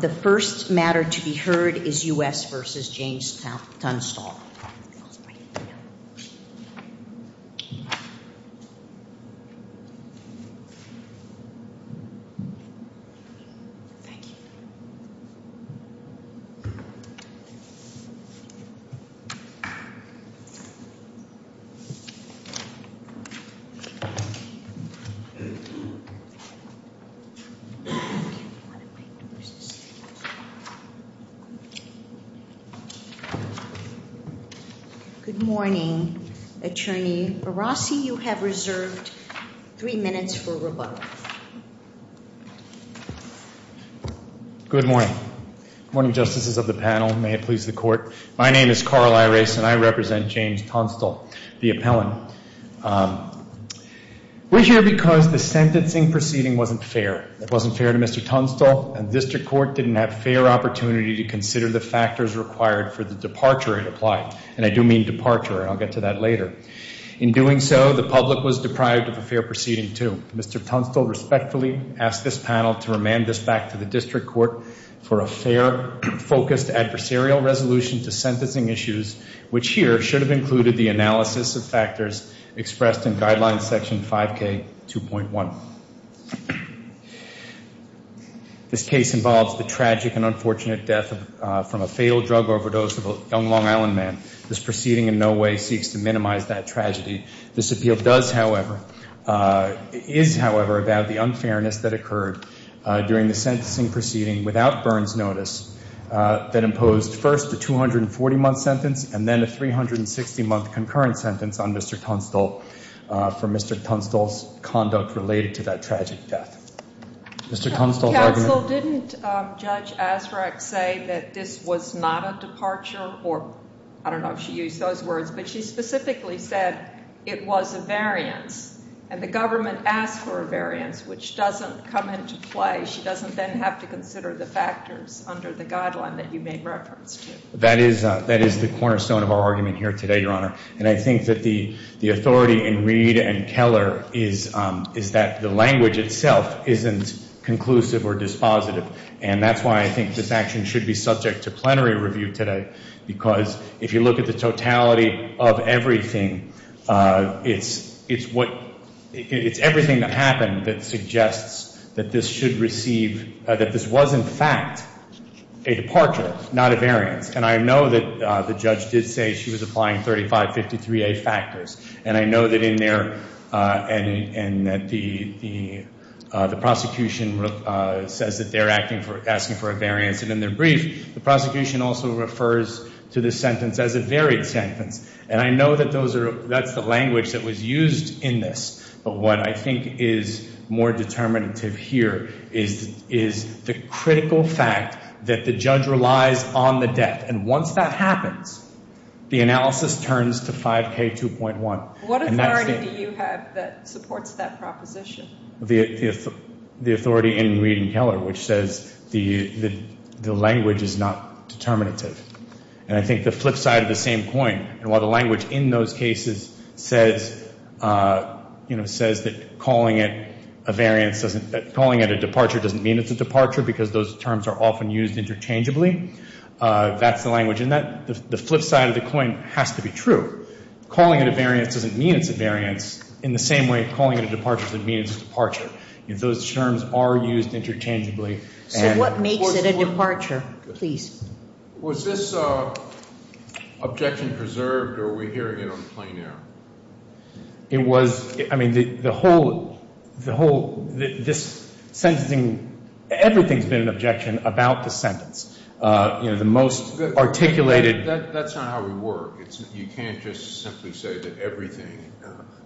The first matter to be heard is U.S. v. James Tunstall. We're here because the sentencing proceeding wasn't fair. It wasn't fair to Mr. Tunstall and the district court. The district court didn't have fair opportunity to consider the factors required for the departure it applied. And I do mean departure. I'll get to that later. In doing so, the public was deprived of a fair proceeding, too. Mr. Tunstall respectfully asked this panel to remand this back to the district court for a fair, focused adversarial resolution to sentencing issues, which here should have included the analysis of factors expressed in Guidelines Section 5K2.1. This case involves the tragic and unfortunate death from a fatal drug overdose of a young Long Island man. This proceeding in no way seeks to minimize that tragedy. This appeal does, however, is, however, about the unfairness that occurred during the sentencing proceeding without Burns' notice that imposed first a 240-month sentence and then a 360-month concurrent sentence on Mr. Tunstall for Mr. Tunstall's conduct related to that tragic death. Mr. Tunstall's argument... Counsel, didn't Judge Asrak say that this was not a departure or I don't know if she used those words, but she specifically said it was a variance and the government asked for a variance, which doesn't come into play. She doesn't then have to consider the factors under the guideline that you made reference to. That is the cornerstone of our argument here today, Your Honor. And I think that the authority in Reed and Keller is that the language itself isn't conclusive or dispositive. And that's why I think this action should be subject to plenary review today because if you look at the totality of everything, it's what... it's everything that happened that suggests that this should receive... that this was, in fact, a departure, not a variance. And I know that the judge did say she was applying 3553A factors. And I know that in there... and that the prosecution says that they're asking for a variance. And in their brief, the prosecution also refers to this sentence as a varied sentence. And I know that that's the language that was used in this. But what I think is more determinative here is the critical fact that the judge relies on the death. And once that happens, the analysis turns to 5K2.1. What authority do you have that supports that proposition? The authority in Reed and Keller, which says the language is not determinative. And I think the flip side of the same coin, and while the language in those cases says that calling it a variance doesn't... calling it a departure doesn't mean it's a departure because those terms are often used interchangeably, that's the language in that. The flip side of the coin has to be true. Calling it a variance doesn't mean it's a variance in the same way calling it a departure doesn't mean it's a departure. Those terms are used interchangeably. So what makes it a departure? Was this objection preserved or were we hearing it on the plain air? It was, I mean, the whole, this sentencing, everything's been an objection about the sentence. You know, the most articulated... That's not how we work. You can't just simply say that everything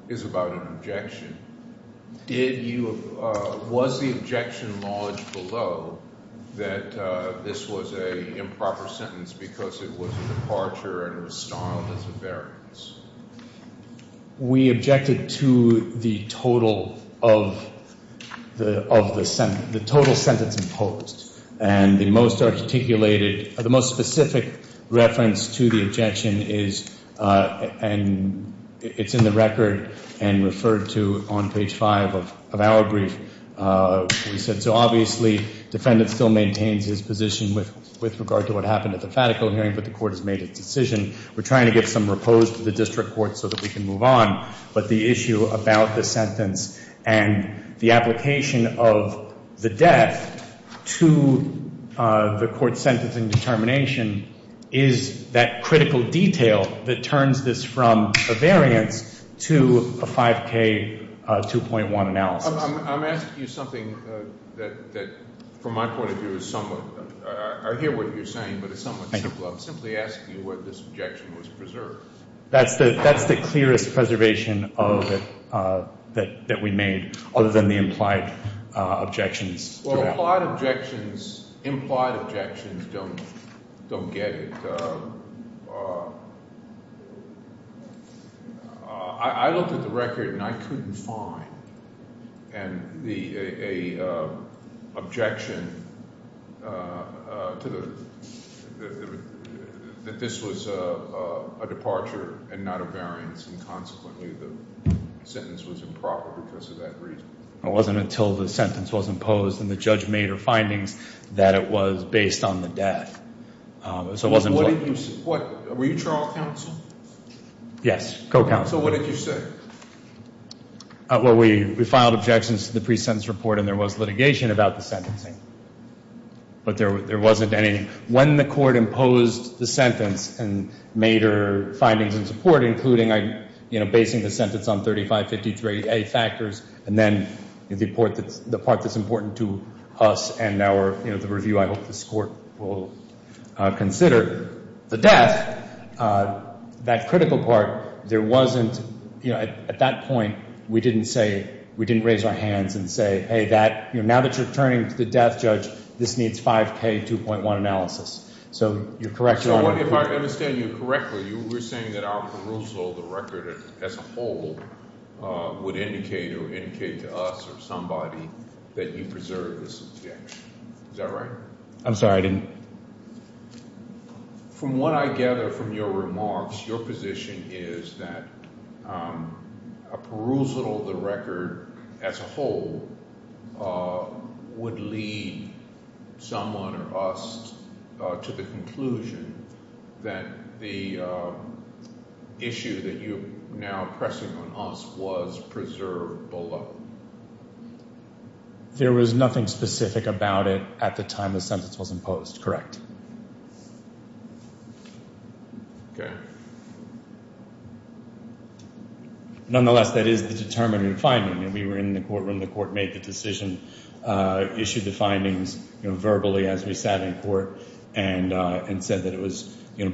is about an objection. Did you, was the objection lodged below that this was an improper sentence because it was a departure and it was styled as a variance? We objected to the total of the sentence, the total sentence imposed. And the most articulated, the most specific reference to the objection is, and it's in the record and referred to on page five of our brief, we said so obviously defendant still maintains his position with regard to what happened at the fatical hearing, but the court has made its decision. We're trying to get some repose to the district court so that we can move on. But the issue about the sentence and the application of the death to the court's sentencing determination is that critical detail that turns this from a variance to a 5K 2.1 analysis. I'm asking you something that from my point of view is somewhat, I hear what you're saying, but it's somewhat simple. I'm simply asking you whether this objection was preserved. That's the clearest preservation that we made other than the implied objections. Well, implied objections don't get it. I looked at the record and I couldn't find an objection that this was a departure and not a variance, and consequently the sentence was improper because of that reason. It wasn't until the sentence was imposed and the judge made her findings that it was based on the death. Were you trial counsel? Yes, co-counsel. So what did you say? Well, we filed objections to the pre-sentence report and there was litigation about the sentencing, but there wasn't any. When the court imposed the sentence and made her findings in support, including basing the sentence on 3553A factors and then the part that's important to us and the review I hope this court will consider, the death, that critical part, at that point we didn't raise our hands and say, hey, now that you're turning to the death judge, this needs 5K 2.1 analysis. So you're correct, Your Honor. Your Honor, if I understand you correctly, you were saying that our perusal of the record as a whole would indicate or indicate to us or somebody that you preserve this objection. Is that right? I'm sorry, I didn't. From what I gather from your remarks, your position is that a perusal of the record as a whole would lead someone or us to the conclusion that the issue that you're now pressing on us was preserved below. There was nothing specific about it at the time the sentence was imposed, correct? Okay. Nonetheless, that is the determined finding. We were in the courtroom, the court made the decision, issued the findings verbally as we sat in court and said that it was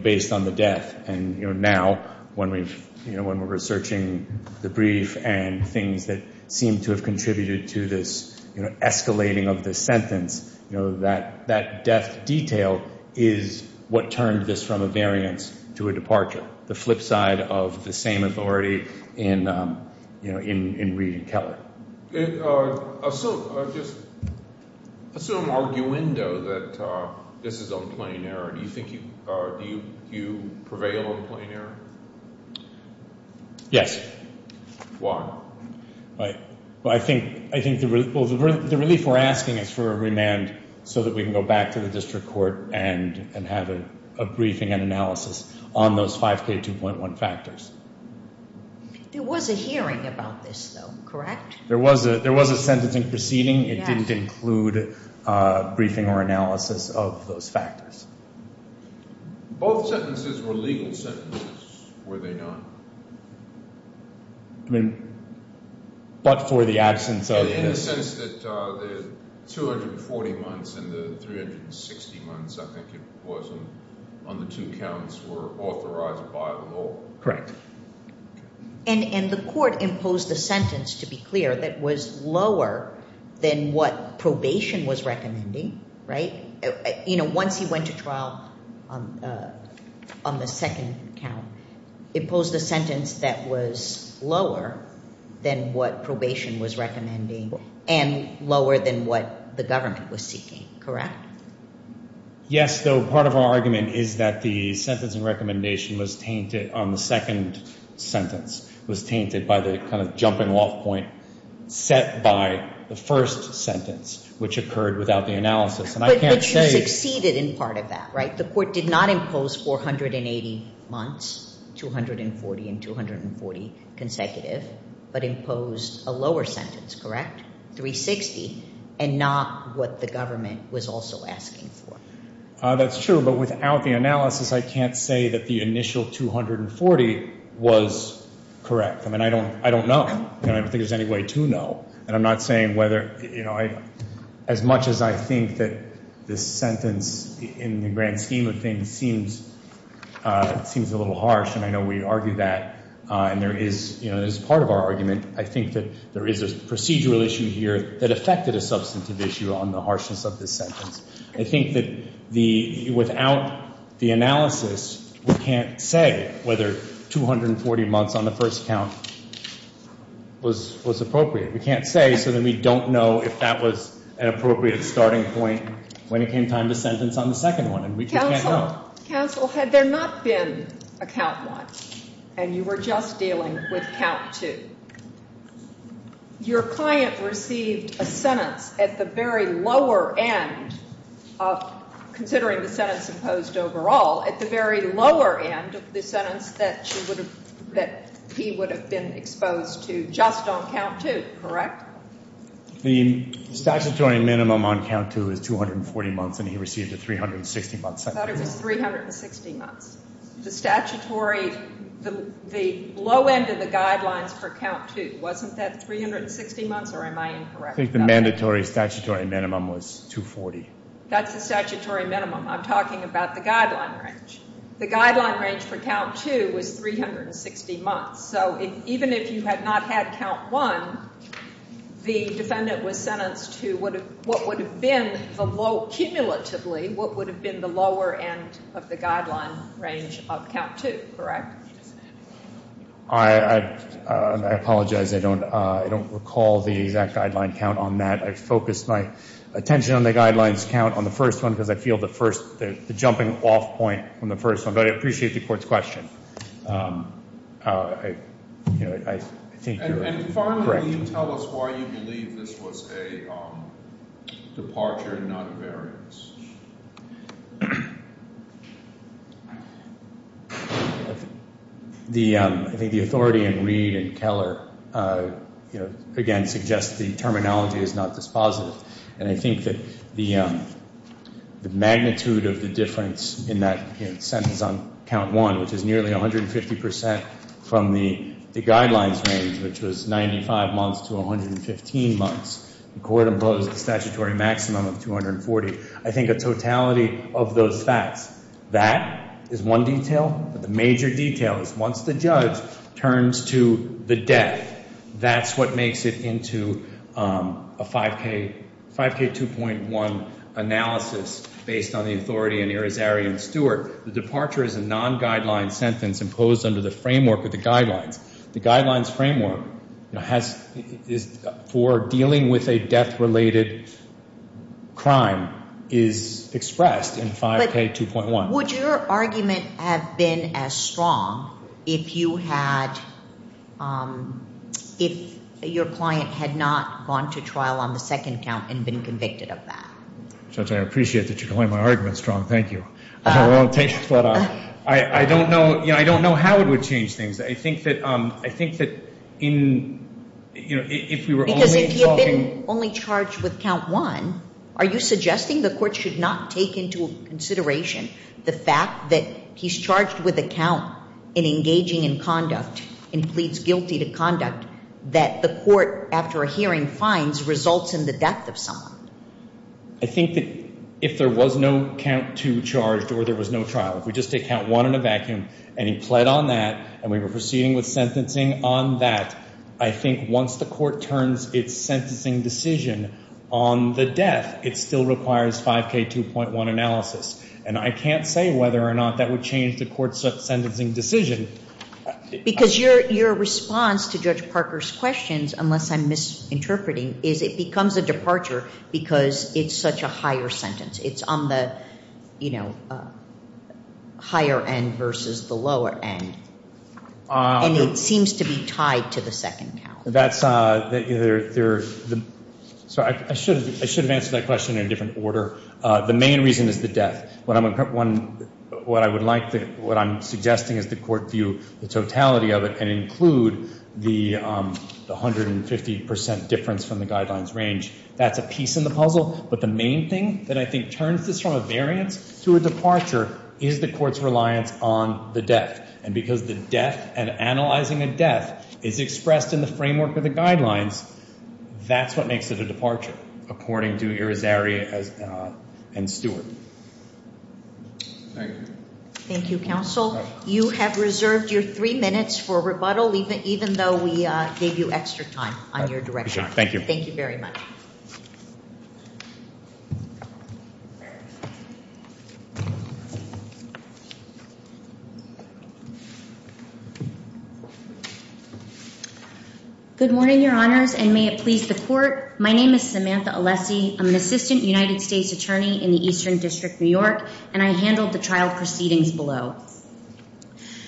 based on the death. And now when we're researching the brief and things that seem to have contributed to this escalating of the sentence, that death detail is what turned this from a variance to a departure, the flip side of the same authority in Reed and Keller. Assume arguendo that this is on plain error. Do you think you prevail on plain error? Yes. Why? I think the relief we're asking is for a remand so that we can go back to the district court and have a briefing and analysis on those 5K2.1 factors. There was a hearing about this, though, correct? There was a sentence in proceeding. It didn't include a briefing or analysis of those factors. Both sentences were legal sentences, were they not? I mean, but for the absence of the. In the sense that the 240 months and the 360 months, I think it was, on the two counts were authorized by the law. Correct. And the court imposed a sentence, to be clear, that was lower than what probation was recommending, right? You know, once he went to trial on the second count, it posed a sentence that was lower than what probation was recommending and lower than what the government was seeking, correct? Yes, though part of our argument is that the sentence and recommendation was tainted on the second sentence, was tainted by the kind of jumping off point set by the first sentence, which occurred without the analysis. But you succeeded in part of that, right? The court did not impose 480 months, 240 and 240 consecutive, but imposed a lower sentence, correct, 360, and not what the government was also asking for. That's true, but without the analysis, I can't say that the initial 240 was correct. I mean, I don't know. I don't think there's any way to know. And I'm not saying whether, you know, as much as I think that this sentence, in the grand scheme of things, seems a little harsh, and I know we argue that, and there is, you know, as part of our argument, I think that there is a procedural issue here that affected a substantive issue on the harshness of this sentence. I think that without the analysis, we can't say whether 240 months on the first count was appropriate. We can't say so that we don't know if that was an appropriate starting point when it came time to sentence on the second one. And we just can't know. Counsel, had there not been a count one and you were just dealing with count two, your client received a sentence at the very lower end of, considering the sentence imposed overall, at the very lower end of the sentence that he would have been exposed to just on count two, correct? The statutory minimum on count two is 240 months, and he received a 360-month sentence. I thought it was 360 months. The statutory, the low end of the guidelines for count two, wasn't that 360 months, or am I incorrect? I think the mandatory statutory minimum was 240. That's the statutory minimum. I'm talking about the guideline range. The guideline range for count two was 360 months. So even if you had not had count one, the defendant was sentenced to what would have been, cumulatively, what would have been the lower end of the guideline range of count two, correct? I apologize. I don't recall the exact guideline count on that. I focused my attention on the guidelines count on the first one because I feel the first, the jumping off point on the first one. But I appreciate the court's question. I think you're correct. And finally, can you tell us why you believe this was a departure and not a variance? I think the authority in Reed and Keller, again, suggests the terminology is not dispositive. And I think that the magnitude of the difference in that sentence on count one, which is nearly 150 percent from the guidelines range, which was 95 months to 115 months, the court imposed a statutory maximum of 240. I think a totality of those facts, that is one detail. But the major detail is once the judge turns to the death, that's what makes it into a 5K2.1 analysis based on the authority in Irizarry and Stewart. The departure is a non-guideline sentence imposed under the framework of the guidelines. The guidelines framework for dealing with a death-related crime is expressed in 5K2.1. Would your argument have been as strong if you had, if your client had not gone to trial on the second count and been convicted of that? Judge, I appreciate that you're calling my argument strong. Thank you. I don't know how it would change things. I think that in, you know, if we were only talking. Because if you've been only charged with count one, are you suggesting the court should not take into consideration the fact that he's charged with a count in engaging in conduct and pleads guilty to conduct that the court, after a hearing, finds results in the death of someone? I think that if there was no count two charged or there was no trial, if we just take count one in a vacuum and he pled on that and we were proceeding with sentencing on that, I think once the court turns its sentencing decision on the death, it still requires 5K2.1 analysis. And I can't say whether or not that would change the court's sentencing decision. Because your response to Judge Parker's questions, unless I'm misinterpreting, is it becomes a departure because it's such a higher sentence. It's on the, you know, higher end versus the lower end. And it seems to be tied to the second count. That's, you know, I should have answered that question in a different order. The main reason is the death. What I would like to, what I'm suggesting is the court view the totality of it and include the 150 percent difference from the guidelines range. That's a piece in the puzzle. But the main thing that I think turns this from a variance to a departure is the court's reliance on the death. And because the death and analyzing a death is expressed in the framework of the guidelines, that's what makes it a departure according to Irizarry and Stewart. Thank you. Thank you, counsel. You have reserved your three minutes for rebuttal even though we gave you extra time on your direction. Thank you. Thank you very much. Good morning, Your Honors, and may it please the court. My name is Samantha Alessi. I'm an assistant United States attorney in the Eastern District, New York, and I handled the trial proceedings below.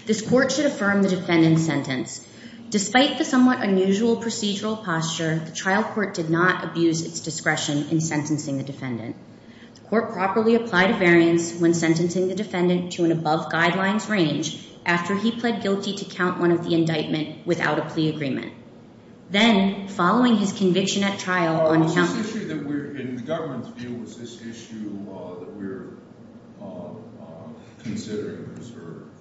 This court should affirm the defendant's sentence. Despite the somewhat unusual procedural posture, the trial court did not abuse its discretion in sentencing the defendant. The court properly applied a variance when sentencing the defendant to an above guidelines range after he pled guilty to count one of the indictment without a plea agreement. Then, following his conviction at trial on account of the issue that we're in, the government's view was this issue that we're considering preserved.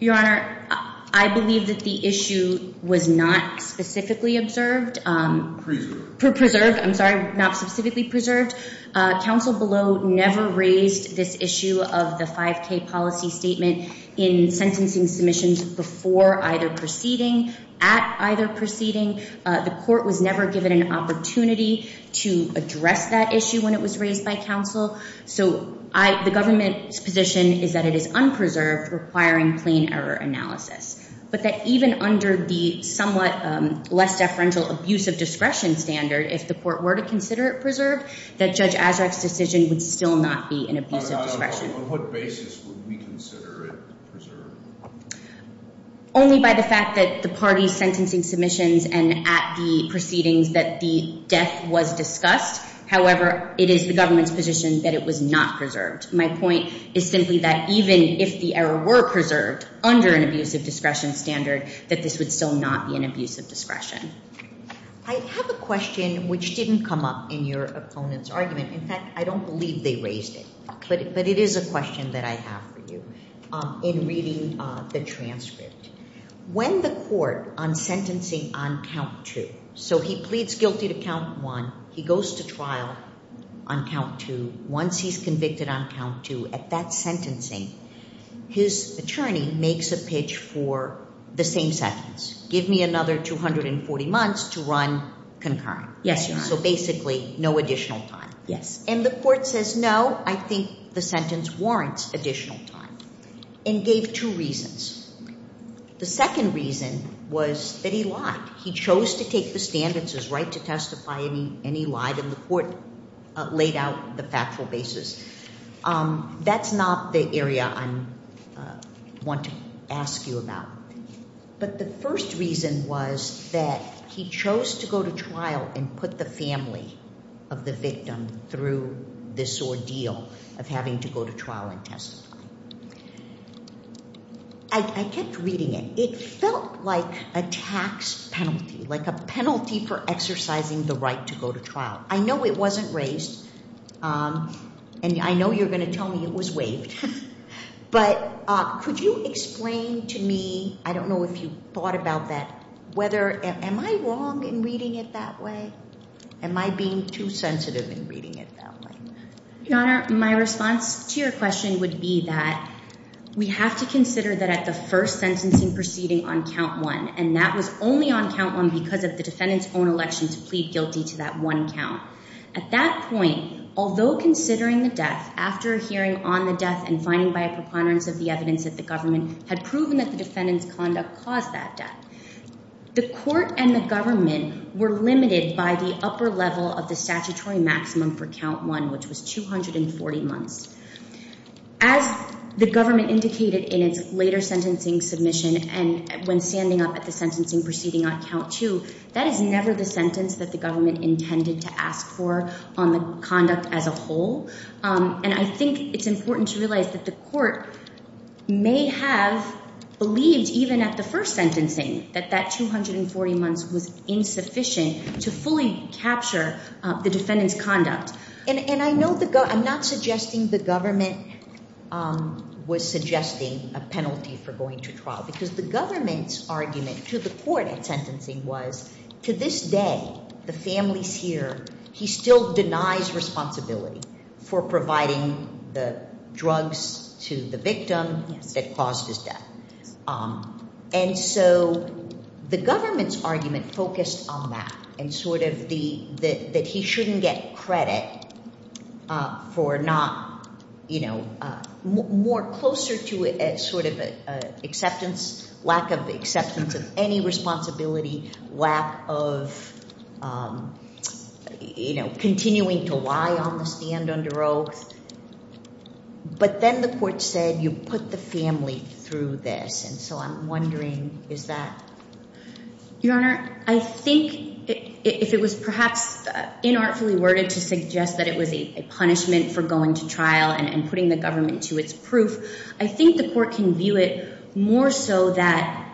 Your Honor, I believe that the issue was not specifically observed. Preserved. Preserved. I'm sorry, not specifically preserved. Counsel below never raised this issue of the 5K policy statement in sentencing submissions before either proceeding. At either proceeding, the court was never given an opportunity to address that issue when it was raised by counsel. So the government's position is that it is unpreserved, requiring plain error analysis, but that even under the somewhat less deferential abuse of discretion standard, if the court were to consider it preserved, that Judge Azarek's decision would still not be an abuse of discretion. On what basis would we consider it preserved? Only by the fact that the parties sentencing submissions and at the proceedings that the death was discussed. However, it is the government's position that it was not preserved. My point is simply that even if the error were preserved under an abuse of discretion standard, that this would still not be an abuse of discretion. I have a question which didn't come up in your opponent's argument. In fact, I don't believe they raised it. But it is a question that I have for you. In reading the transcript, when the court on sentencing on count two, so he pleads guilty to count one, he goes to trial on count two. Once he's convicted on count two, at that sentencing, his attorney makes a pitch for the same sentence. Give me another 240 months to run concurrent. Yes, Your Honor. So basically no additional time. Yes. And the court says, no, I think the sentence warrants additional time and gave two reasons. The second reason was that he lied. He chose to take the stand. It's his right to testify, and he lied, and the court laid out the factual basis. That's not the area I want to ask you about. But the first reason was that he chose to go to trial and put the family of the victim through this ordeal of having to go to trial and testify. I kept reading it. It felt like a tax penalty, like a penalty for exercising the right to go to trial. I know it wasn't raised, and I know you're going to tell me it was waived. But could you explain to me, I don't know if you thought about that, whether am I wrong in reading it that way? Am I being too sensitive in reading it that way? Your Honor, my response to your question would be that we have to consider that at the first sentencing proceeding on count one, and that was only on count one because of the defendant's own election to plead guilty to that one count. At that point, although considering the death, after a hearing on the death and finding by a preponderance of the evidence that the government had proven that the defendant's conduct caused that death, the court and the government were limited by the upper level of the statutory maximum for count one, which was 240 months. As the government indicated in its later sentencing submission and when standing up at the sentencing proceeding on count two, that is never the sentence that the government intended to ask for on the conduct as a whole. And I think it's important to realize that the court may have believed even at the first sentencing that that 240 months was insufficient to fully capture the defendant's conduct. And I'm not suggesting the government was suggesting a penalty for going to trial because the government's argument to the court at sentencing was to this day, the family's here. He still denies responsibility for providing the drugs to the victim that caused his death. And so the government's argument focused on that and sort of the that he shouldn't get credit for not, you know, more closer to it, sort of acceptance, lack of acceptance of any responsibility, lack of, you know, continuing to lie on the stand under oath. But then the court said you put the family through this. And so I'm wondering, is that your honor? I think if it was perhaps inartfully worded to suggest that it was a punishment for going to trial and putting the government to its proof, I think the court can view it more so that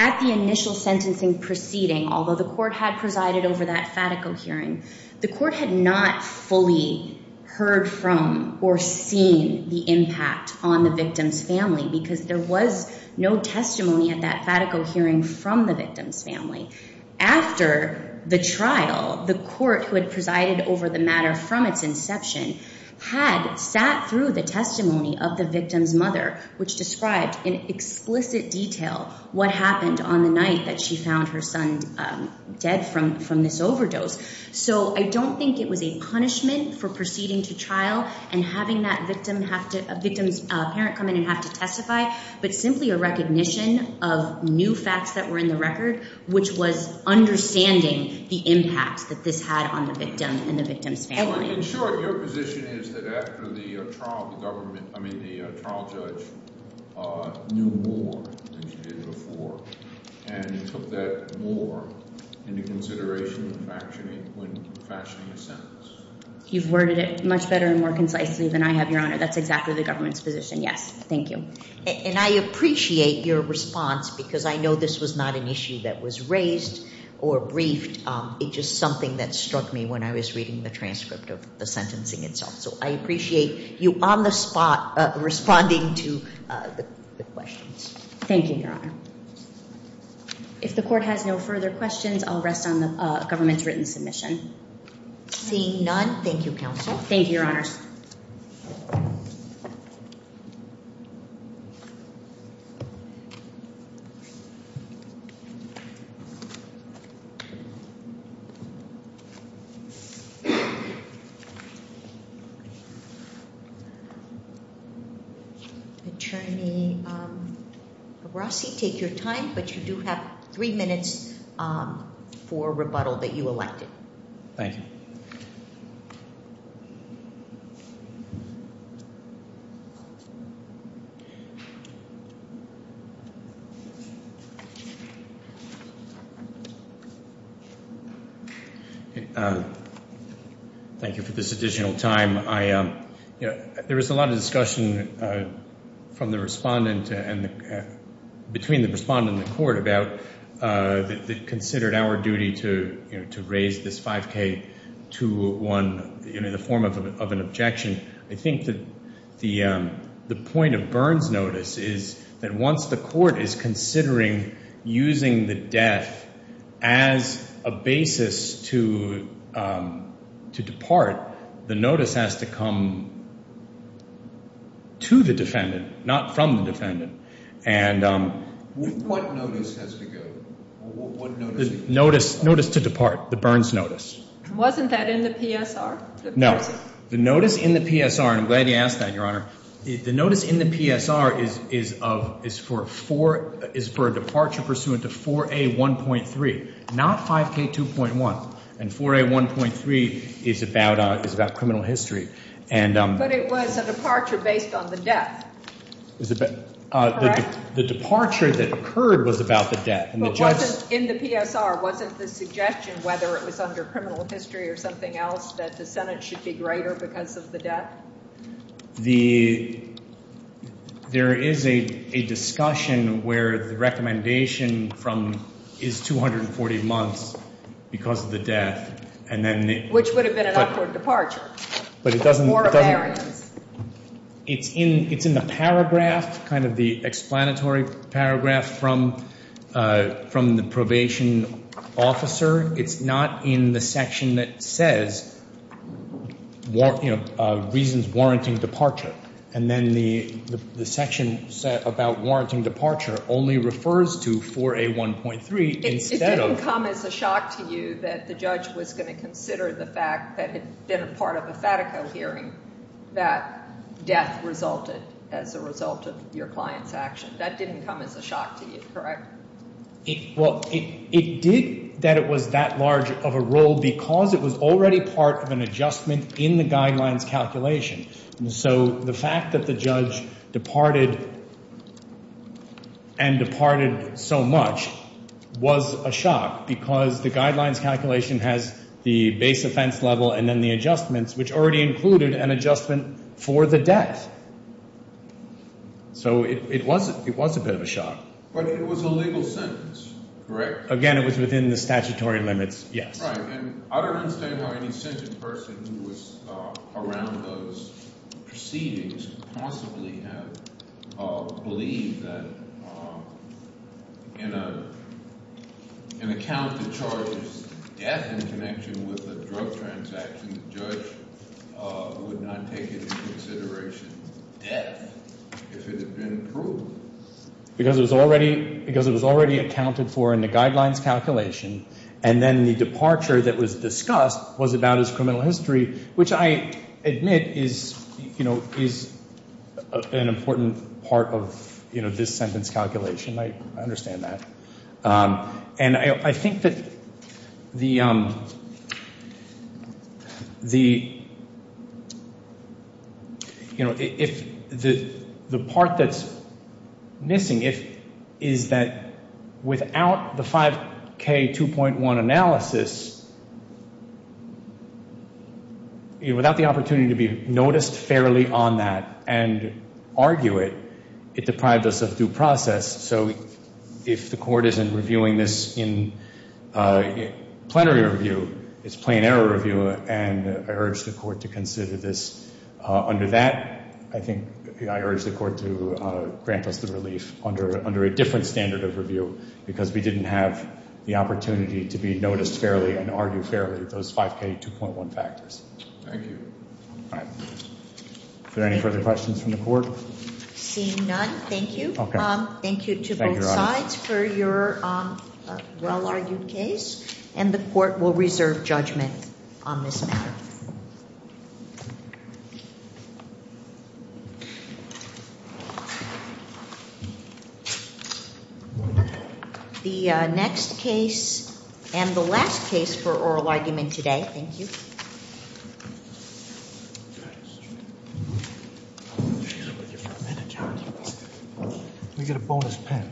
at the initial sentencing proceeding, although the court had presided over that fatico hearing, the court had not fully heard from or seen the impact on the victim's family because there was no testimony at that fatico hearing from the victim's family. After the trial, the court who had presided over the matter from its inception had sat through the testimony of the victim's mother, which described in explicit detail what happened on the night that she found her son dead from this overdose. So I don't think it was a punishment for proceeding to trial and having that victim's parent come in and have to testify, but simply a recognition of new facts that were in the record, which was understanding the impact that this had on the victim and the victim's family. In short, your position is that after the trial, the trial judge knew more than she did before and took that more into consideration when fashioning a sentence? You've worded it much better and more concisely than I have, your honor. That's exactly the government's position, yes. Thank you. And I appreciate your response because I know this was not an issue that was raised or briefed. It's just something that struck me when I was reading the transcript of the sentencing itself. So I appreciate you on the spot responding to the questions. Thank you, your honor. If the court has no further questions, I'll rest on the government's written submission. Seeing none, thank you, counsel. Thank you, your honors. Thank you. Attorney Rossi, take your time, but you do have three minutes for rebuttal that you elected. Thank you. Thank you for this additional time. There was a lot of discussion from the respondent and between the respondent and the court about the considered our duty to raise this 5K to one in the form of an objection. I think that the point of Byrne's notice is that once the court is considering using the death as a basis to depart, the notice has to come to the defendant, not from the defendant. What notice has to go? Notice to depart, the Byrne's notice. Wasn't that in the PSR? No. The notice in the PSR, and I'm glad you asked that, your honor. The notice in the PSR is for a departure pursuant to 4A1.3, not 5K2.1. And 4A1.3 is about criminal history. But it was a departure based on the death. The departure that occurred was about the death. In the PSR, wasn't the suggestion, whether it was under criminal history or something else, that the Senate should be greater because of the death? There is a discussion where the recommendation is 240 months because of the death. Which would have been an upward departure. It's in the paragraph, kind of the explanatory paragraph from the probation officer. It's not in the section that says reasons warranting departure. And then the section about warranting departure only refers to 4A1.3 instead of That didn't come as a shock to you that the judge was going to consider the fact that it had been a part of a FATICO hearing that death resulted as a result of your client's action. That didn't come as a shock to you, correct? Well, it did that it was that large of a role because it was already part of an adjustment in the guidelines calculation. So the fact that the judge departed and departed so much was a shock because the guidelines calculation has the base offense level and then the adjustments, which already included an adjustment for the death. So it was a bit of a shock. But it was a legal sentence, correct? Again, it was within the statutory limits, yes. Right, and I don't understand how any sentencing person who was around those proceedings could possibly have believed that in an account that charges death in connection with a drug transaction, the judge would not take into consideration death if it had been proved. Because it was already accounted for in the guidelines calculation. And then the departure that was discussed was about his criminal history, which I admit is an important part of this sentence calculation. I understand that. And I think that the part that's missing is that without the 5K2.1 analysis, without the opportunity to be noticed fairly on that and argue it, it deprived us of due process. So if the court isn't reviewing this in plenary review, it's plain error review. And I urge the court to consider this under that. I think I urge the court to grant us the relief under a different standard of review because we didn't have the opportunity to be noticed fairly and argue fairly those 5K2.1 factors. Thank you. All right. Are there any further questions from the court? Seeing none, thank you. Thank you to both sides for your well-argued case. And the court will reserve judgment on this matter. The next case and the last case for oral argument today. Thank you. Let me get a bonus pen.